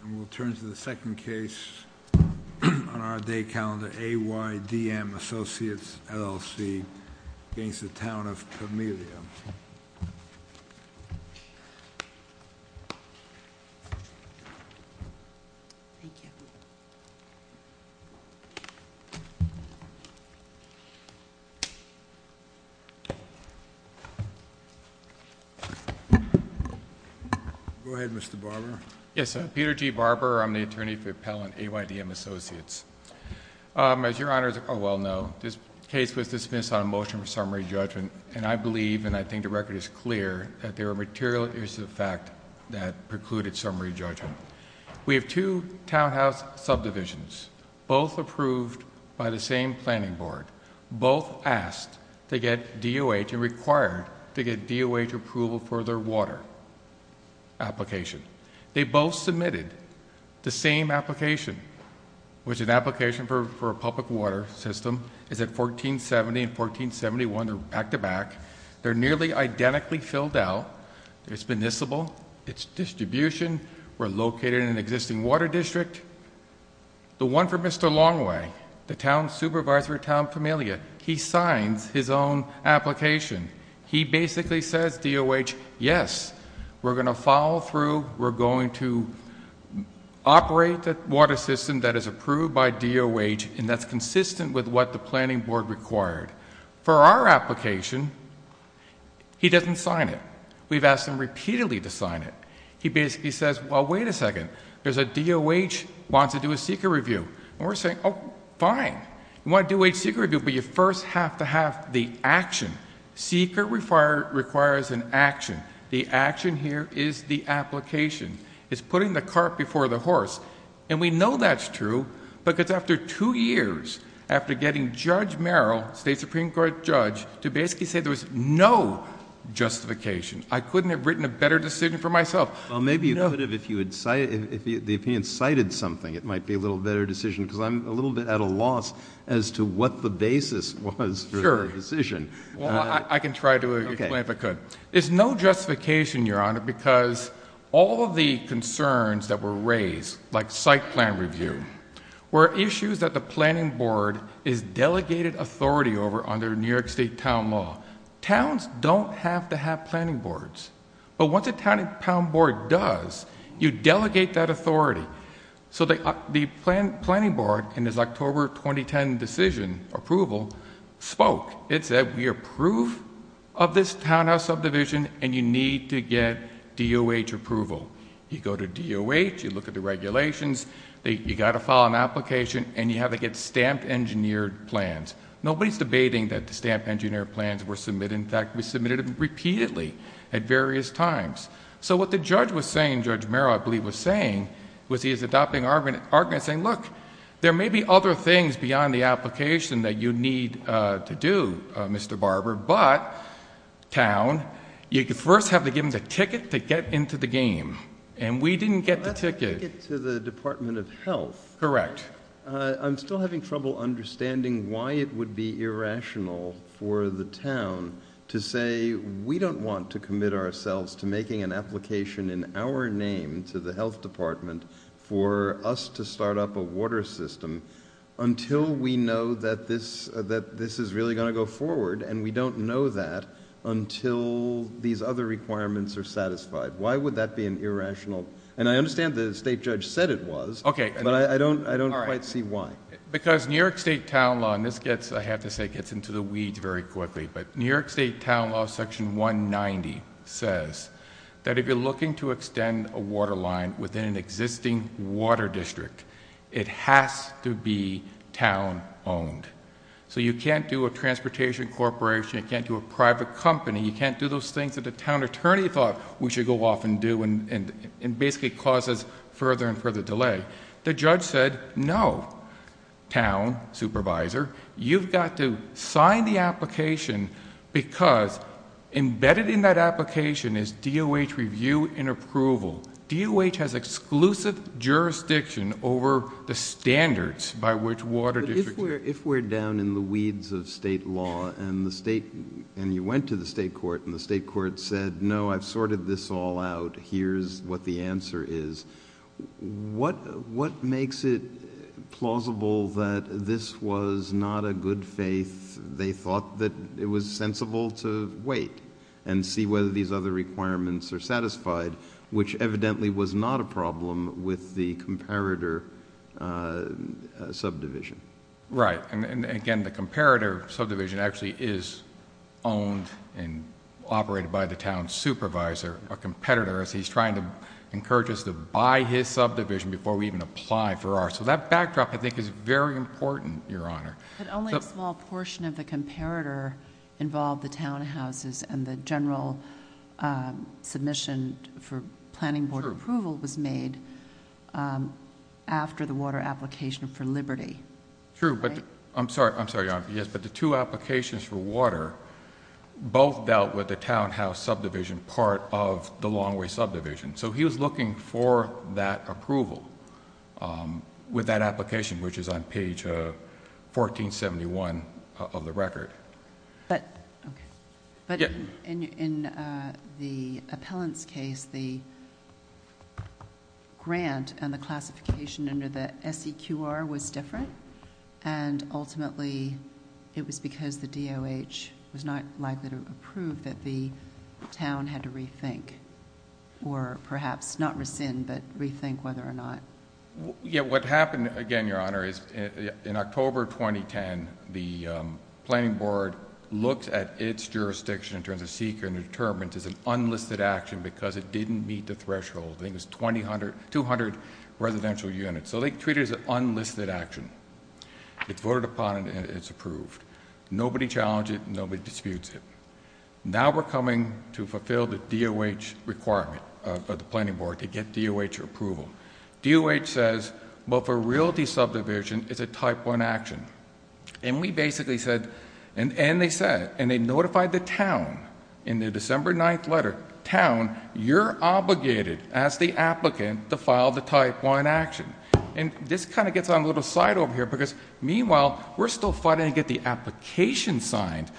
Camellia. We'll turn to the second case on our day calendar, AYDM Associates, LLC v. Town o Camellia. Go ahead, Mr. Barber. Yes. Peter G. Barber. I'm the attorney for Appellant AYDM Associates. As your Honors are well known, this case was dismissed on a motion for summary judgment, and I believe and I think the record is clear that there are material issues of fact that precluded summary judgment. We have two townhouse subdivisions, both approved by the same planning board, both asked to get DOH and required to get DOH approval for their water application. They both submitted the same application, which an application for a public water system is at 1470 and 1471, they're back-to-back. They're nearly identically filled out. It's municipal, it's distribution, we're located in an existing water district. The one for Mr. Longway, the town supervisor at Town o Camellia, he signs his own application. He basically says, DOH, yes, we're going to follow through, we're going to operate the water system that is approved by DOH and that's consistent with what the planning board required. For our application, he doesn't sign it. We've asked him repeatedly to sign it. He basically says, well, wait a second, there's a DOH wants to do a seeker review. And we're saying, oh, fine, you want to do a seeker review, but you first have to have the action. Seeker requires an action. The action here is the application. It's putting the cart before the horse. And we know that's true because after two years, after getting Judge Merrill, state Supreme Court judge, to basically say there was no justification, I couldn't have written a better decision for myself. Well, maybe you could have if the opinion cited something. It might be a little better decision because I'm a little bit at a loss as to what the basis was for the decision. Well, I can try to explain if I could. There's no justification, Your Honor, because all of the concerns that were raised, like site plan review, were issues that the planning board has delegated authority over under New York State town law. Towns don't have to have planning boards. But once a town board does, you delegate that authority. So the planning board, in its October 2010 decision approval, spoke. It said, we approve of this townhouse subdivision, and you need to get DOH approval. You go to DOH, you look at the regulations, you got to file an application, and you have to get stamped engineered plans. Nobody's debating that the stamped engineered plans were submitted. In fact, we submitted them repeatedly at various times. So what the judge was saying, Judge Merrill, I believe, was saying, was he was adopting argument, saying, look, there may be other things beyond the application that you need to do, Mr. Barber, but, town, you first have to give them the ticket to get into the game. And we didn't get the ticket. Well, that's a ticket to the Department of Health. Correct. I'm still having trouble understanding why it would be irrational for the town to say, we don't want to commit ourselves to making an application in our name to the health department for us to start up a water system until we know that this is really going to go forward, and we don't know that until these other requirements are satisfied. Why would that be an irrational, and I understand the state judge said it was, but I don't quite see why. Because New York State Town Law, and this gets, I have to say, gets into the weeds very quickly, but New York State Town Law section 190 says that if you're looking to extend a water line within an existing water district, it has to be town owned. So you can't do a transportation corporation, you can't do a private company, you can't do those things that a town attorney thought we should go off and do, and basically causes further and further delay. The judge said, no, town supervisor, you've got to sign the application because embedded in that application is DOH review and approval. DOH has exclusive jurisdiction over the standards by which water districts are... If we're down in the weeds of state law, and you went to the state court, and the state court said, no, I've sorted this all out, here's what the answer is, what makes it plausible that this was not a good faith? They thought that it was sensible to wait and see whether these other requirements are satisfied, which evidently was not a problem with the comparator subdivision. Right, and again, the comparator subdivision actually is owned and operated by the town supervisor, a competitor, as he's trying to encourage us to buy his subdivision before we even apply for ours. So that backdrop, I think, is very important, Your Honor. But only a small portion of the comparator involved the townhouses, and the general submission for planning board approval was made after the water application for Liberty. True, but I'm sorry, Your Honor, yes, but the two applications for water both dealt with the townhouse subdivision, part of the Longway subdivision. He was looking for that approval with that application, which is on page 1471 of the record. Okay. But in the appellant's case, the grant and the classification under the SEQR was different, and ultimately, it was because the DOH was not likely to approve that the town had to perhaps not rescind, but rethink whether or not... Yeah, what happened, again, Your Honor, is in October 2010, the planning board looked at its jurisdiction in terms of SEQR and determined it's an unlisted action because it didn't meet the threshold. I think it was 200 residential units. So they treated it as an unlisted action. It voted upon it, and it's approved. Nobody challenged it, and nobody disputes it. Now we're coming to fulfill the DOH requirement of the planning board to get DOH approval. DOH says, well, for realty subdivision, it's a type one action. And we basically said... and they said, and they notified the town in their December 9th letter, town, you're obligated as the applicant to file the type one action. And this kind of gets on a little side over here because, meanwhile, we're still fighting to get the application signed.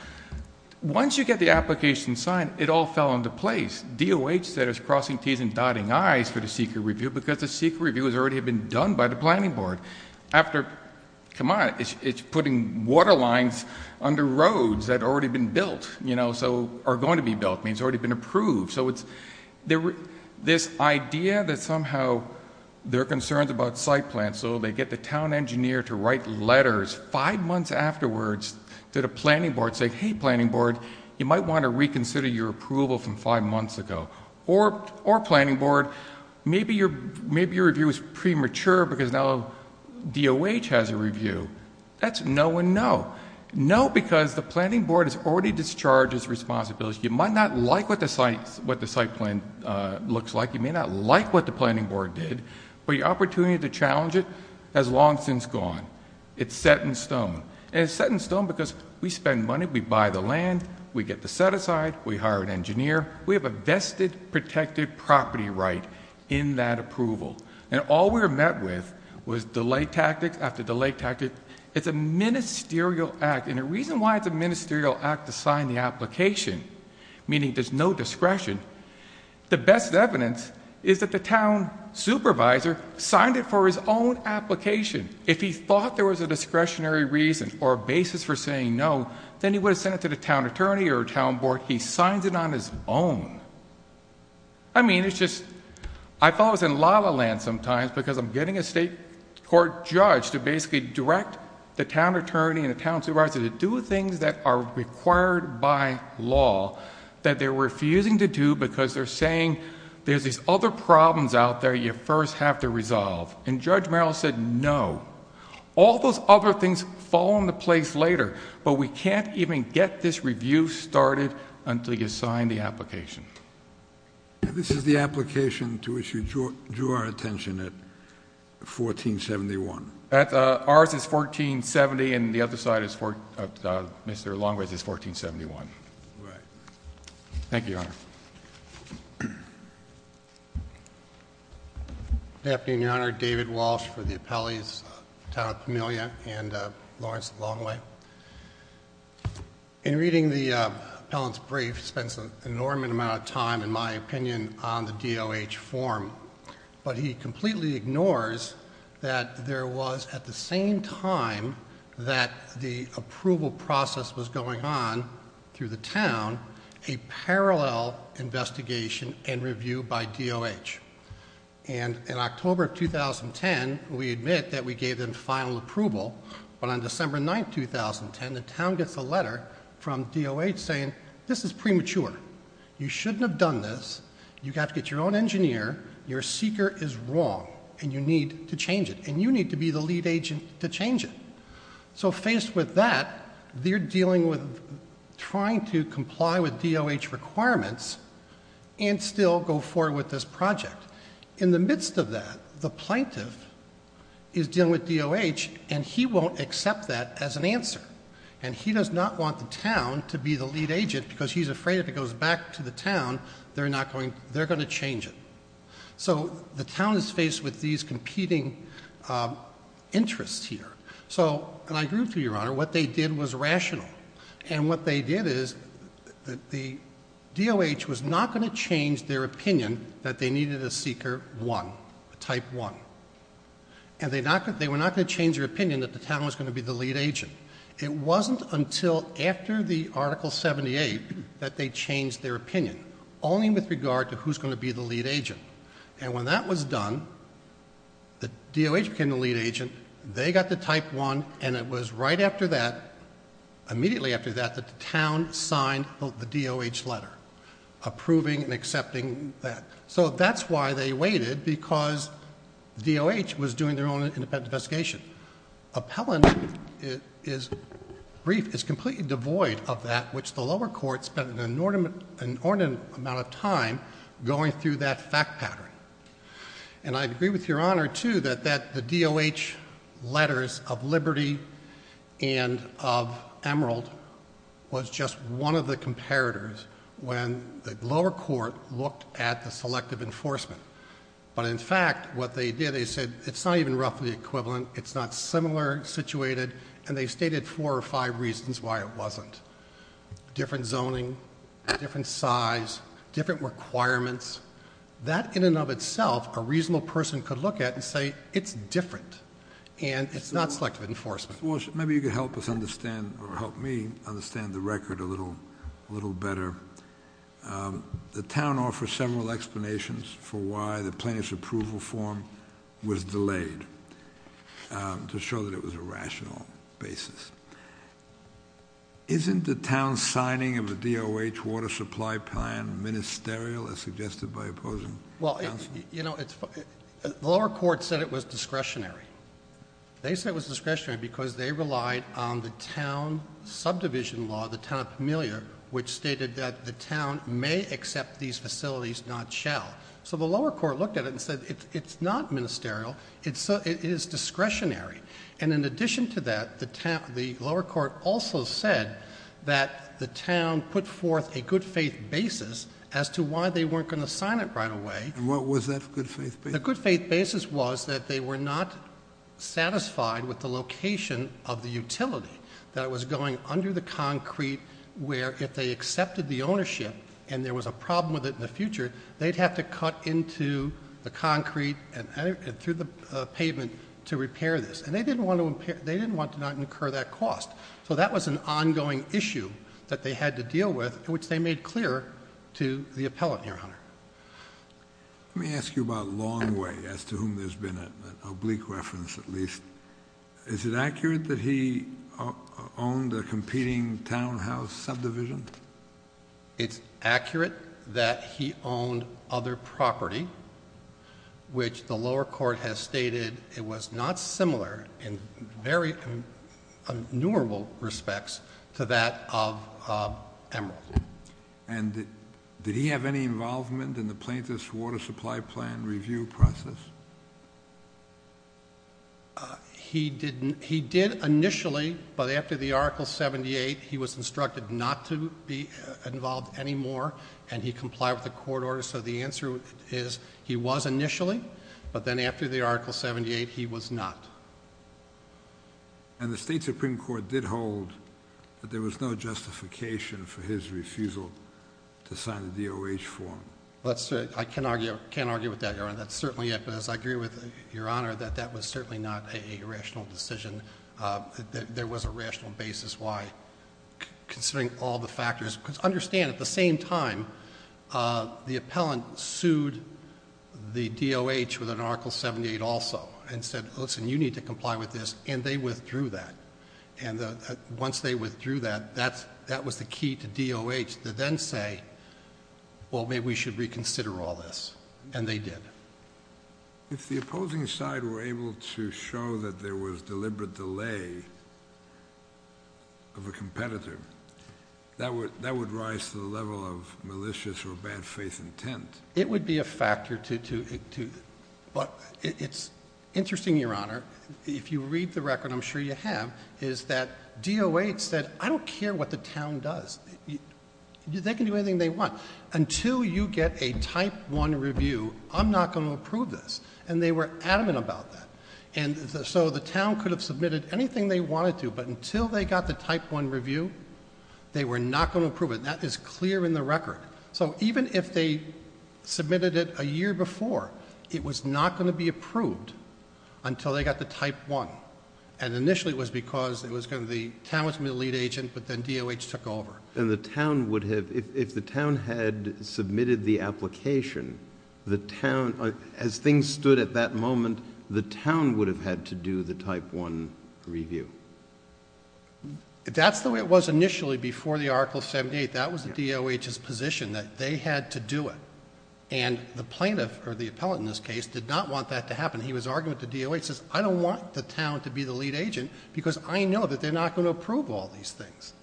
Once you get the application signed, it all fell into place. DOH said it's crossing T's and dotting I's for the SEQR review because the SEQR review has already been done by the planning board. After... come on, it's putting water lines under roads that had already been built, you know, so are going to be built. I mean, it's already been approved. So it's... this idea that somehow there are concerns about site plans, so they get the town engineer to write letters five months afterwards to the planning board saying, hey, planning board, you might want to reconsider your approval from five months ago. Or planning board, maybe your review is premature because now DOH has a review. That's no and no. No because the planning board has already discharged its responsibility. You might not like what the site plan looks like. You may not like what the planning board did, but your opportunity to challenge it has long since gone. It's set in stone. And it's set in stone because we spend money. We buy the land. We get the set aside. We hire an engineer. We have a vested protected property right in that approval. And all we were met with was delay tactics after delay tactics. It's a ministerial act, and the reason why it's a ministerial act to sign the application, meaning there's no discretion, the best evidence is that the town supervisor signed it for his own application. If he thought there was a discretionary reason or a basis for saying no, then he would have sent it to the town attorney or town board. He signs it on his own. I mean, it's just, I thought I was in La La Land sometimes because I'm getting a state court judge to basically direct the town that they're refusing to do because they're saying there's these other problems out there you first have to resolve. And Judge Merrill said no. All those other things fall into place later, but we can't even get this review started until you sign the application. This is the application to which you drew our attention at 1471. Ours is 1470, and the other side, Mr. Longworth's is 1471. Thank you, Your Honor. Good afternoon, Your Honor. David Walsh for the appellees, the town of Pamelia and Lawrence Longway. In reading the appellant's brief, he spends an enormous amount of time, in my opinion, on the DOH form. But he completely ignores that there was, at the same time that the approval process was going on through the town, a parallel investigation and review by DOH. And in October of 2010, we admit that we gave them final approval. But on December 9, 2010, the town gets a letter from DOH saying, this is premature. You shouldn't have done this. You have to get your own engineer. Your seeker is wrong, and you need to change it. And you need to be the lead agent to change it. So faced with that, they're dealing with trying to comply with DOH requirements and still go forward with this project. In the midst of that, the plaintiff is dealing with DOH, and he won't accept that as an answer. And he does not want the town to be the lead agent, because he's afraid if it goes back to the town, they're going to change it. So the town is faced with these competing interests here. So, and I agree with you, Your Honor, what they did was rational. And what they did is, the DOH was not going to change their opinion that they needed a seeker one, a type one. And they were not going to change their opinion that the town was going to be the lead agent. It wasn't until after the article 78 that they changed their opinion, only with regard to who's going to be the lead agent. And when that was done, the DOH became the lead agent. They got the type one, and it was right after that, immediately after that, that the town signed the DOH letter, approving and accepting that. So that's why they waited, because DOH was doing their own independent investigation. Appellant is completely devoid of that, which the lower court spent an inordinate amount of time going through that fact pattern. And I agree with Your Honor, too, that the DOH letters of Liberty and of Emerald was just one of the comparators when the lower court looked at the selective enforcement. But in fact, what they did, they said, it's not even roughly equivalent, it's not similar situated, and they stated four or five reasons why it wasn't. Different zoning, different size, different requirements. That in and of itself, a reasonable person could look at and say, it's different. And it's not selective enforcement. Maybe you could help us understand, or help me understand the record a little better. The town offers several explanations for why the plaintiff's approval form was delayed, to show that it was a rational basis. Isn't the town signing of a DOH water supply plan ministerial, as suggested by opposing counsel? Well, the lower court said it was discretionary. They said it was discretionary because they relied on the town subdivision law, the town of Pamelia, which stated that the town may accept these facilities, not shall. So the lower court looked at it and said, it's not ministerial, it is discretionary. And in addition to that, the lower court also said that the town put forth a good faith basis as to why they weren't going to sign it right away. And what was that good faith basis? The good faith basis was that they were not satisfied with the location of the utility. That it was going under the concrete, where if they accepted the ownership, and there was a problem with it in the future, they'd have to cut into the concrete and through the pavement to repair this. And they didn't want to not incur that cost. So that was an ongoing issue that they had to deal with, which they made clear to the appellate, your honor. Let me ask you about Longway, as to whom there's been an oblique reference, at least. Is it accurate that he owned a competing townhouse subdivision? It's accurate that he owned other property, which the lower court has stated it was not similar in very innumerable respects to that of Emerald. And did he have any involvement in the plaintiff's water supply plan review process? He did initially, but after the article 78, he was instructed not to be involved anymore. And he complied with the court order, so the answer is he was initially, but then after the article 78, he was not. And the state supreme court did hold that there was no justification for his refusal to sign the DOH form. Let's say, I can't argue with that, your honor. That's certainly it, but as I agree with your honor, that that was certainly not a rational decision. There was a rational basis why, considering all the factors. Because understand, at the same time, the appellant sued the DOH with an article 78 also. And said, listen, you need to comply with this, and they withdrew that. And once they withdrew that, that was the key to DOH to then say, well, maybe we should reconsider all this, and they did. If the opposing side were able to show that there was deliberate delay of a competitor, that would rise to the level of malicious or bad faith intent. It would be a factor to, but it's interesting, your honor. If you read the record, I'm sure you have, is that DOH said, I don't care what the town does. They can do anything they want. Until you get a type one review, I'm not going to approve this. And they were adamant about that. And so the town could have submitted anything they wanted to, but until they got the type one review, they were not going to approve it. And that is clear in the record. So even if they submitted it a year before, it was not going to be approved until they got the type one. And initially it was because it was going to be, town was going to be the lead agent, but then DOH took over. And the town would have, if the town had submitted the application, the town, as things stood at that moment, the town would have had to do the type one review. That's the way it was initially before the article 78. That was the DOH's position, that they had to do it. And the plaintiff, or the appellate in this case, did not want that to happen. And he was arguing with the DOH, he says, I don't want the town to be the lead agent because I know that they're not going to approve all these things.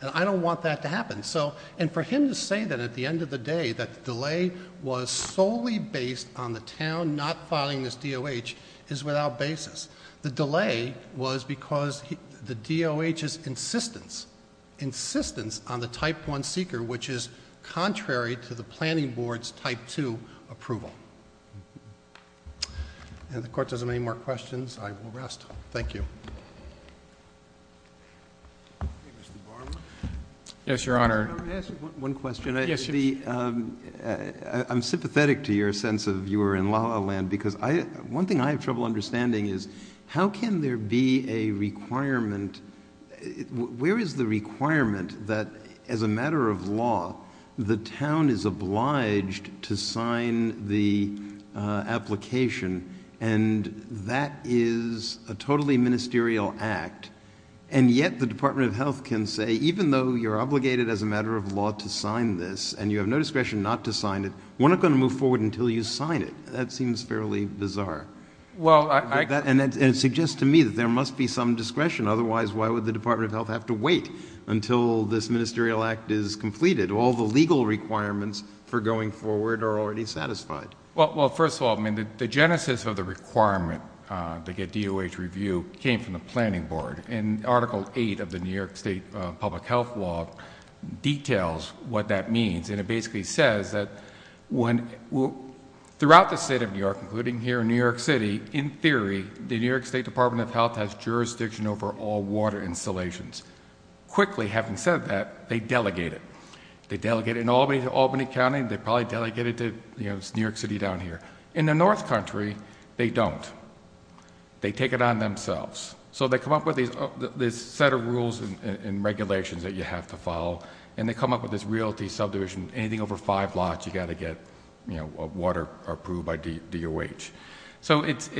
And I don't want that to happen. So, and for him to say that at the end of the day, that the delay was solely based on the town not filing this DOH, is without basis. The delay was because the DOH's insistence, insistence on the type one seeker, which is contrary to the planning board's type two approval. And if the court doesn't have any more questions, I will rest. Thank you. Yes, your honor. I'm going to ask you one question. I'm sympathetic to your sense of you were in La La Land, because one thing I have trouble understanding is, how can there be a requirement? Where is the requirement that, as a matter of law, the town is obliged to sign the application, and that is a totally ministerial act, and yet the Department of Health can say, even though you're obligated as a matter of law to sign this, and you have no discretion not to sign it, we're not going to move forward until you sign it. That seems fairly bizarre. And it suggests to me that there must be some discretion. Otherwise, why would the Department of Health have to wait until this ministerial act is completed? All the legal requirements for going forward are already satisfied. Well, first of all, the genesis of the requirement to get DOH review came from the planning board. And Article 8 of the New York State Public Health Law details what that means. And it basically says that throughout the state of New York, including here in New York City, in theory, the New York State Department of Health has jurisdiction over all water installations. Quickly, having said that, they delegate it. They delegate it in Albany to Albany County, they probably delegate it to New York City down here. In the North Country, they don't, they take it on themselves. So they come up with this set of rules and regulations that you have to follow. And they come up with this realty subdivision, anything over five lots, you gotta get water approved by DOH. So it's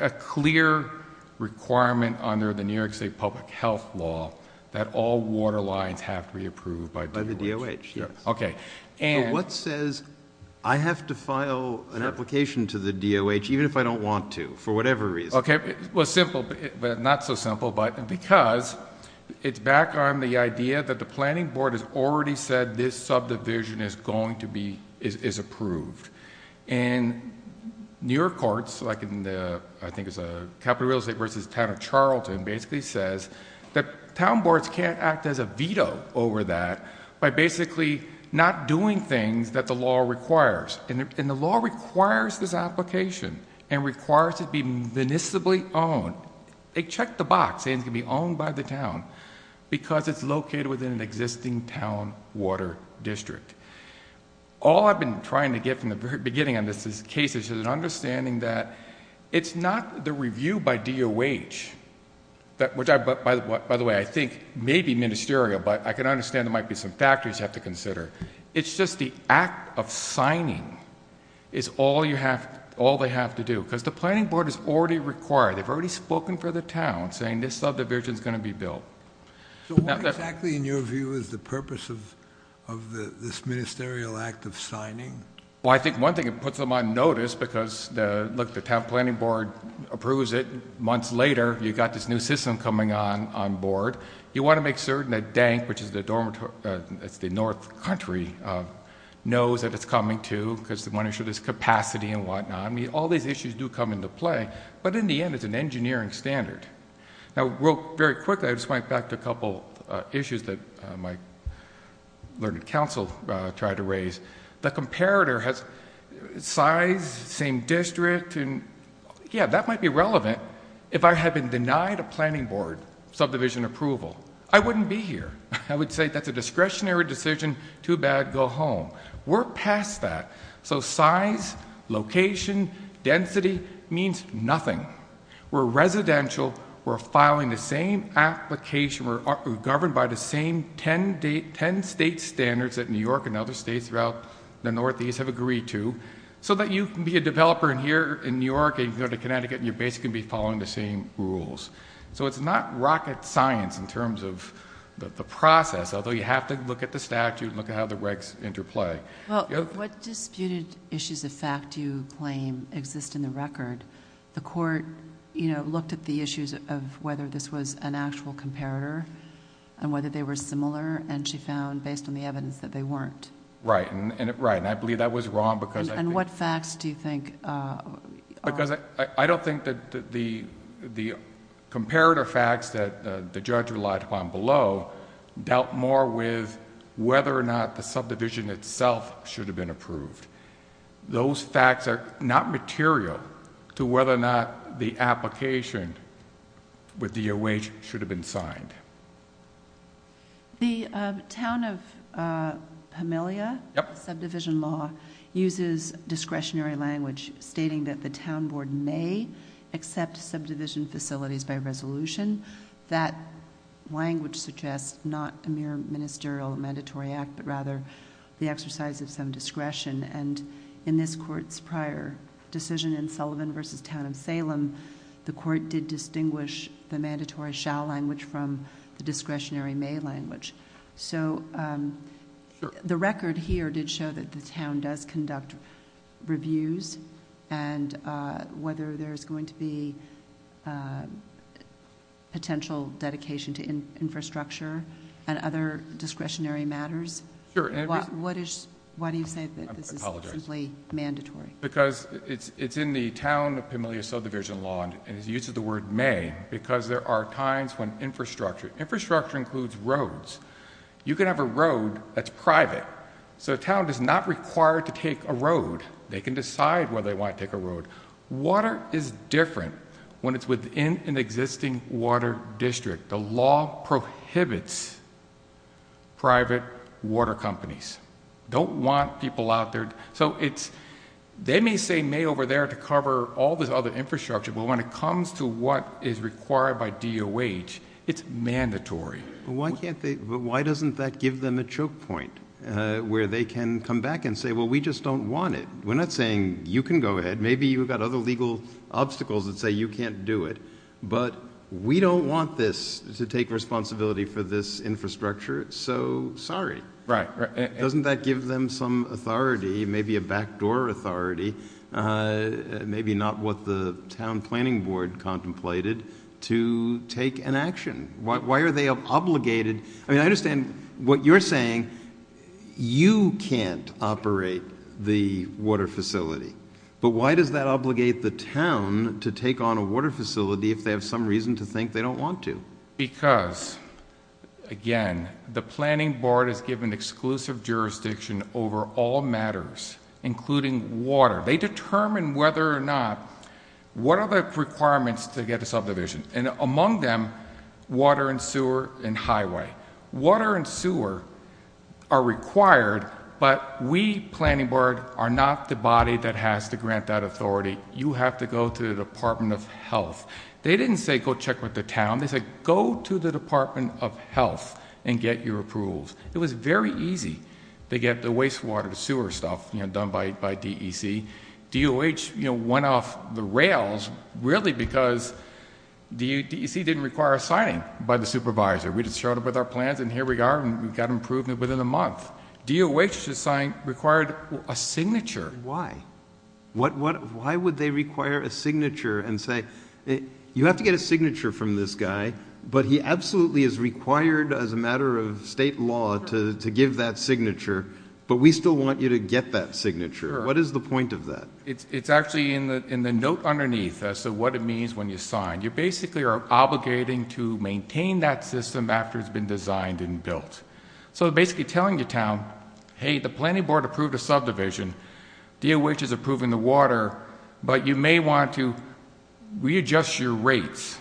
a clear requirement under the New York State Public Health Law that all water lines have to be approved by DOH. By the DOH, yes. Okay. And- What says I have to file an application to the DOH, even if I don't want to, for whatever reason? Okay, well, simple, but not so simple. But because it's back on the idea that the planning board has already said this subdivision is going to be, is approved. And New York courts, like in the, I think it's a capital real estate versus town of Charlton, basically says that town boards can't act as a veto over that by basically not doing things that the law requires. And the law requires this application and requires it be municipally owned. They checked the box, saying it's going to be owned by the town because it's located within an existing town water district. All I've been trying to get from the very beginning on this case is an understanding that it's not the review by DOH. Which, by the way, I think may be ministerial, but I can understand there might be some factors you have to consider. It's just the act of signing is all they have to do, because the planning board is already required. They've already spoken for the town, saying this subdivision's going to be built. So what exactly, in your view, is the purpose of this ministerial act of signing? Well, I think one thing it puts them on notice, because look, the town planning board approves it. Months later, you've got this new system coming on board. You want to make certain that DENC, which is the dormitory, it's the north country, knows that it's coming to, because the one issue is capacity and whatnot. I mean, all these issues do come into play, but in the end, it's an engineering standard. Now, very quickly, I just want to go back to a couple issues that my learned counsel tried to raise. The comparator has size, same district, and yeah, that might be relevant if I had been denied a planning board subdivision approval. I wouldn't be here. I would say that's a discretionary decision, too bad, go home. We're past that. So size, location, density means nothing. We're residential, we're filing the same application, we're governed by the same ten state standards that New York and other states throughout the Northeast have agreed to, so that you can be a developer in here, in New York, and you can go to Connecticut, and your base can be following the same rules. So it's not rocket science in terms of the process, although you have to look at the statute and look at how the regs interplay. Well, what disputed issues of fact do you claim exist in the record? The court looked at the issues of whether this was an actual comparator and whether they were similar, and she found, based on the evidence, that they weren't. Right, and I believe that was wrong because I think... And what facts do you think are... Because I don't think that the comparator facts that the judge relied upon below dealt more with whether or not the subdivision itself should have been approved. Those facts are not material to whether or not the application with the wage should have been signed. The town of Pamelia, subdivision law, uses discretionary language stating that the town board may accept subdivision facilities by resolution. That language suggests not a mere ministerial mandatory act, but rather the exercise of some discretion. And in this court's prior decision in Sullivan versus Town of Salem, the court did distinguish the mandatory shall language from the discretionary may language. So the record here did show that the town does conduct reviews, and whether there's going to be potential dedication to infrastructure and other discretionary matters. Why do you say that this is simply mandatory? Because it's in the town of Pamelia subdivision law, and it uses the word may, because there are times when infrastructure, infrastructure includes roads, you can have a road that's private, so a town is not required to take a road. They can decide whether they want to take a road. Water is different when it's within an existing water district. The law prohibits private water companies. Don't want people out there, so it's, they may say may over there to cover all this other infrastructure, but when it comes to what is required by DOH, it's mandatory. Why can't they, why doesn't that give them a choke point where they can come back and say, well, we just don't want it. We're not saying you can go ahead, maybe you've got other legal obstacles that say you can't do it. But we don't want this to take responsibility for this infrastructure, so sorry. Right, right. Doesn't that give them some authority, maybe a backdoor authority, maybe not what the town planning board contemplated, to take an action? Why are they obligated, I mean, I understand what you're saying, you can't operate the water facility. But why does that obligate the town to take on a water facility if they have some reason to think they don't want to? Because, again, the planning board is given exclusive jurisdiction over all matters, including water. They determine whether or not, what are the requirements to get a subdivision? And among them, water and sewer and highway. Water and sewer are required, but we, planning board, are not the body that has to grant that authority. You have to go to the Department of Health. They didn't say, go check with the town. They said, go to the Department of Health and get your approvals. It was very easy to get the wastewater sewer stuff done by DEC. DOH went off the rails, really, because DEC didn't require a signing by the supervisor. We just showed up with our plans and here we are, and we've got improvement within a month. DOH required a signature. Why? Why would they require a signature and say, you have to get a signature from this guy, but he absolutely is required as a matter of state law to give that signature. But we still want you to get that signature. What is the point of that? It's actually in the note underneath as to what it means when you sign. You basically are obligating to maintain that system after it's been designed and built. So basically telling the town, hey, the planning board approved a subdivision. DOH is approving the water, but you may want to readjust your rates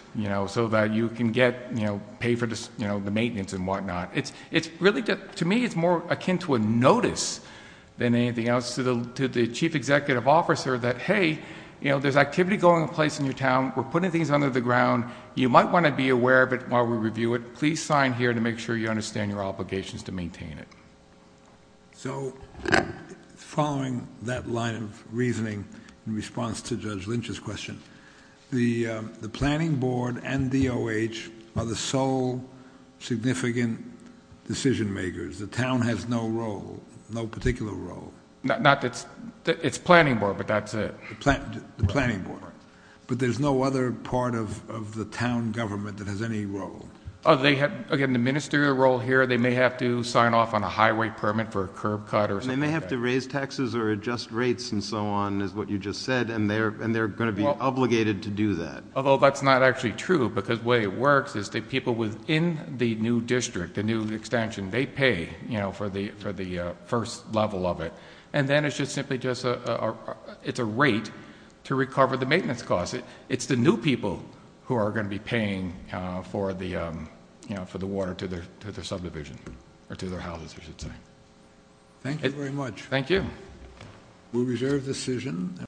so that you can pay for the maintenance and whatnot. To me, it's more akin to a notice than anything else to the chief executive officer that, hey, there's activity going on in your town. We're putting things under the ground. You might want to be aware of it while we review it. Please sign here to make sure you understand your obligations to maintain it. So following that line of reasoning in response to Judge Lynch's question, the planning board and DOH are the sole significant decision makers. The town has no role, no particular role. Not that's, it's planning board, but that's it. The planning board. But there's no other part of the town government that has any role. Oh, they have, again, the ministerial role here. They may have to sign off on a highway permit for a curb cut or something like that. And they may have to raise taxes or adjust rates and so on is what you just said. And they're going to be obligated to do that. Although that's not actually true because the way it works is the people within the new district, the new extension, they pay for the first level of it. And then it's just simply just a, it's a rate to recover the maintenance costs. It's the new people who are going to be paying for the water to their subdivision, or to their houses, I should say. Thank you very much. Thank you. We reserve the decision.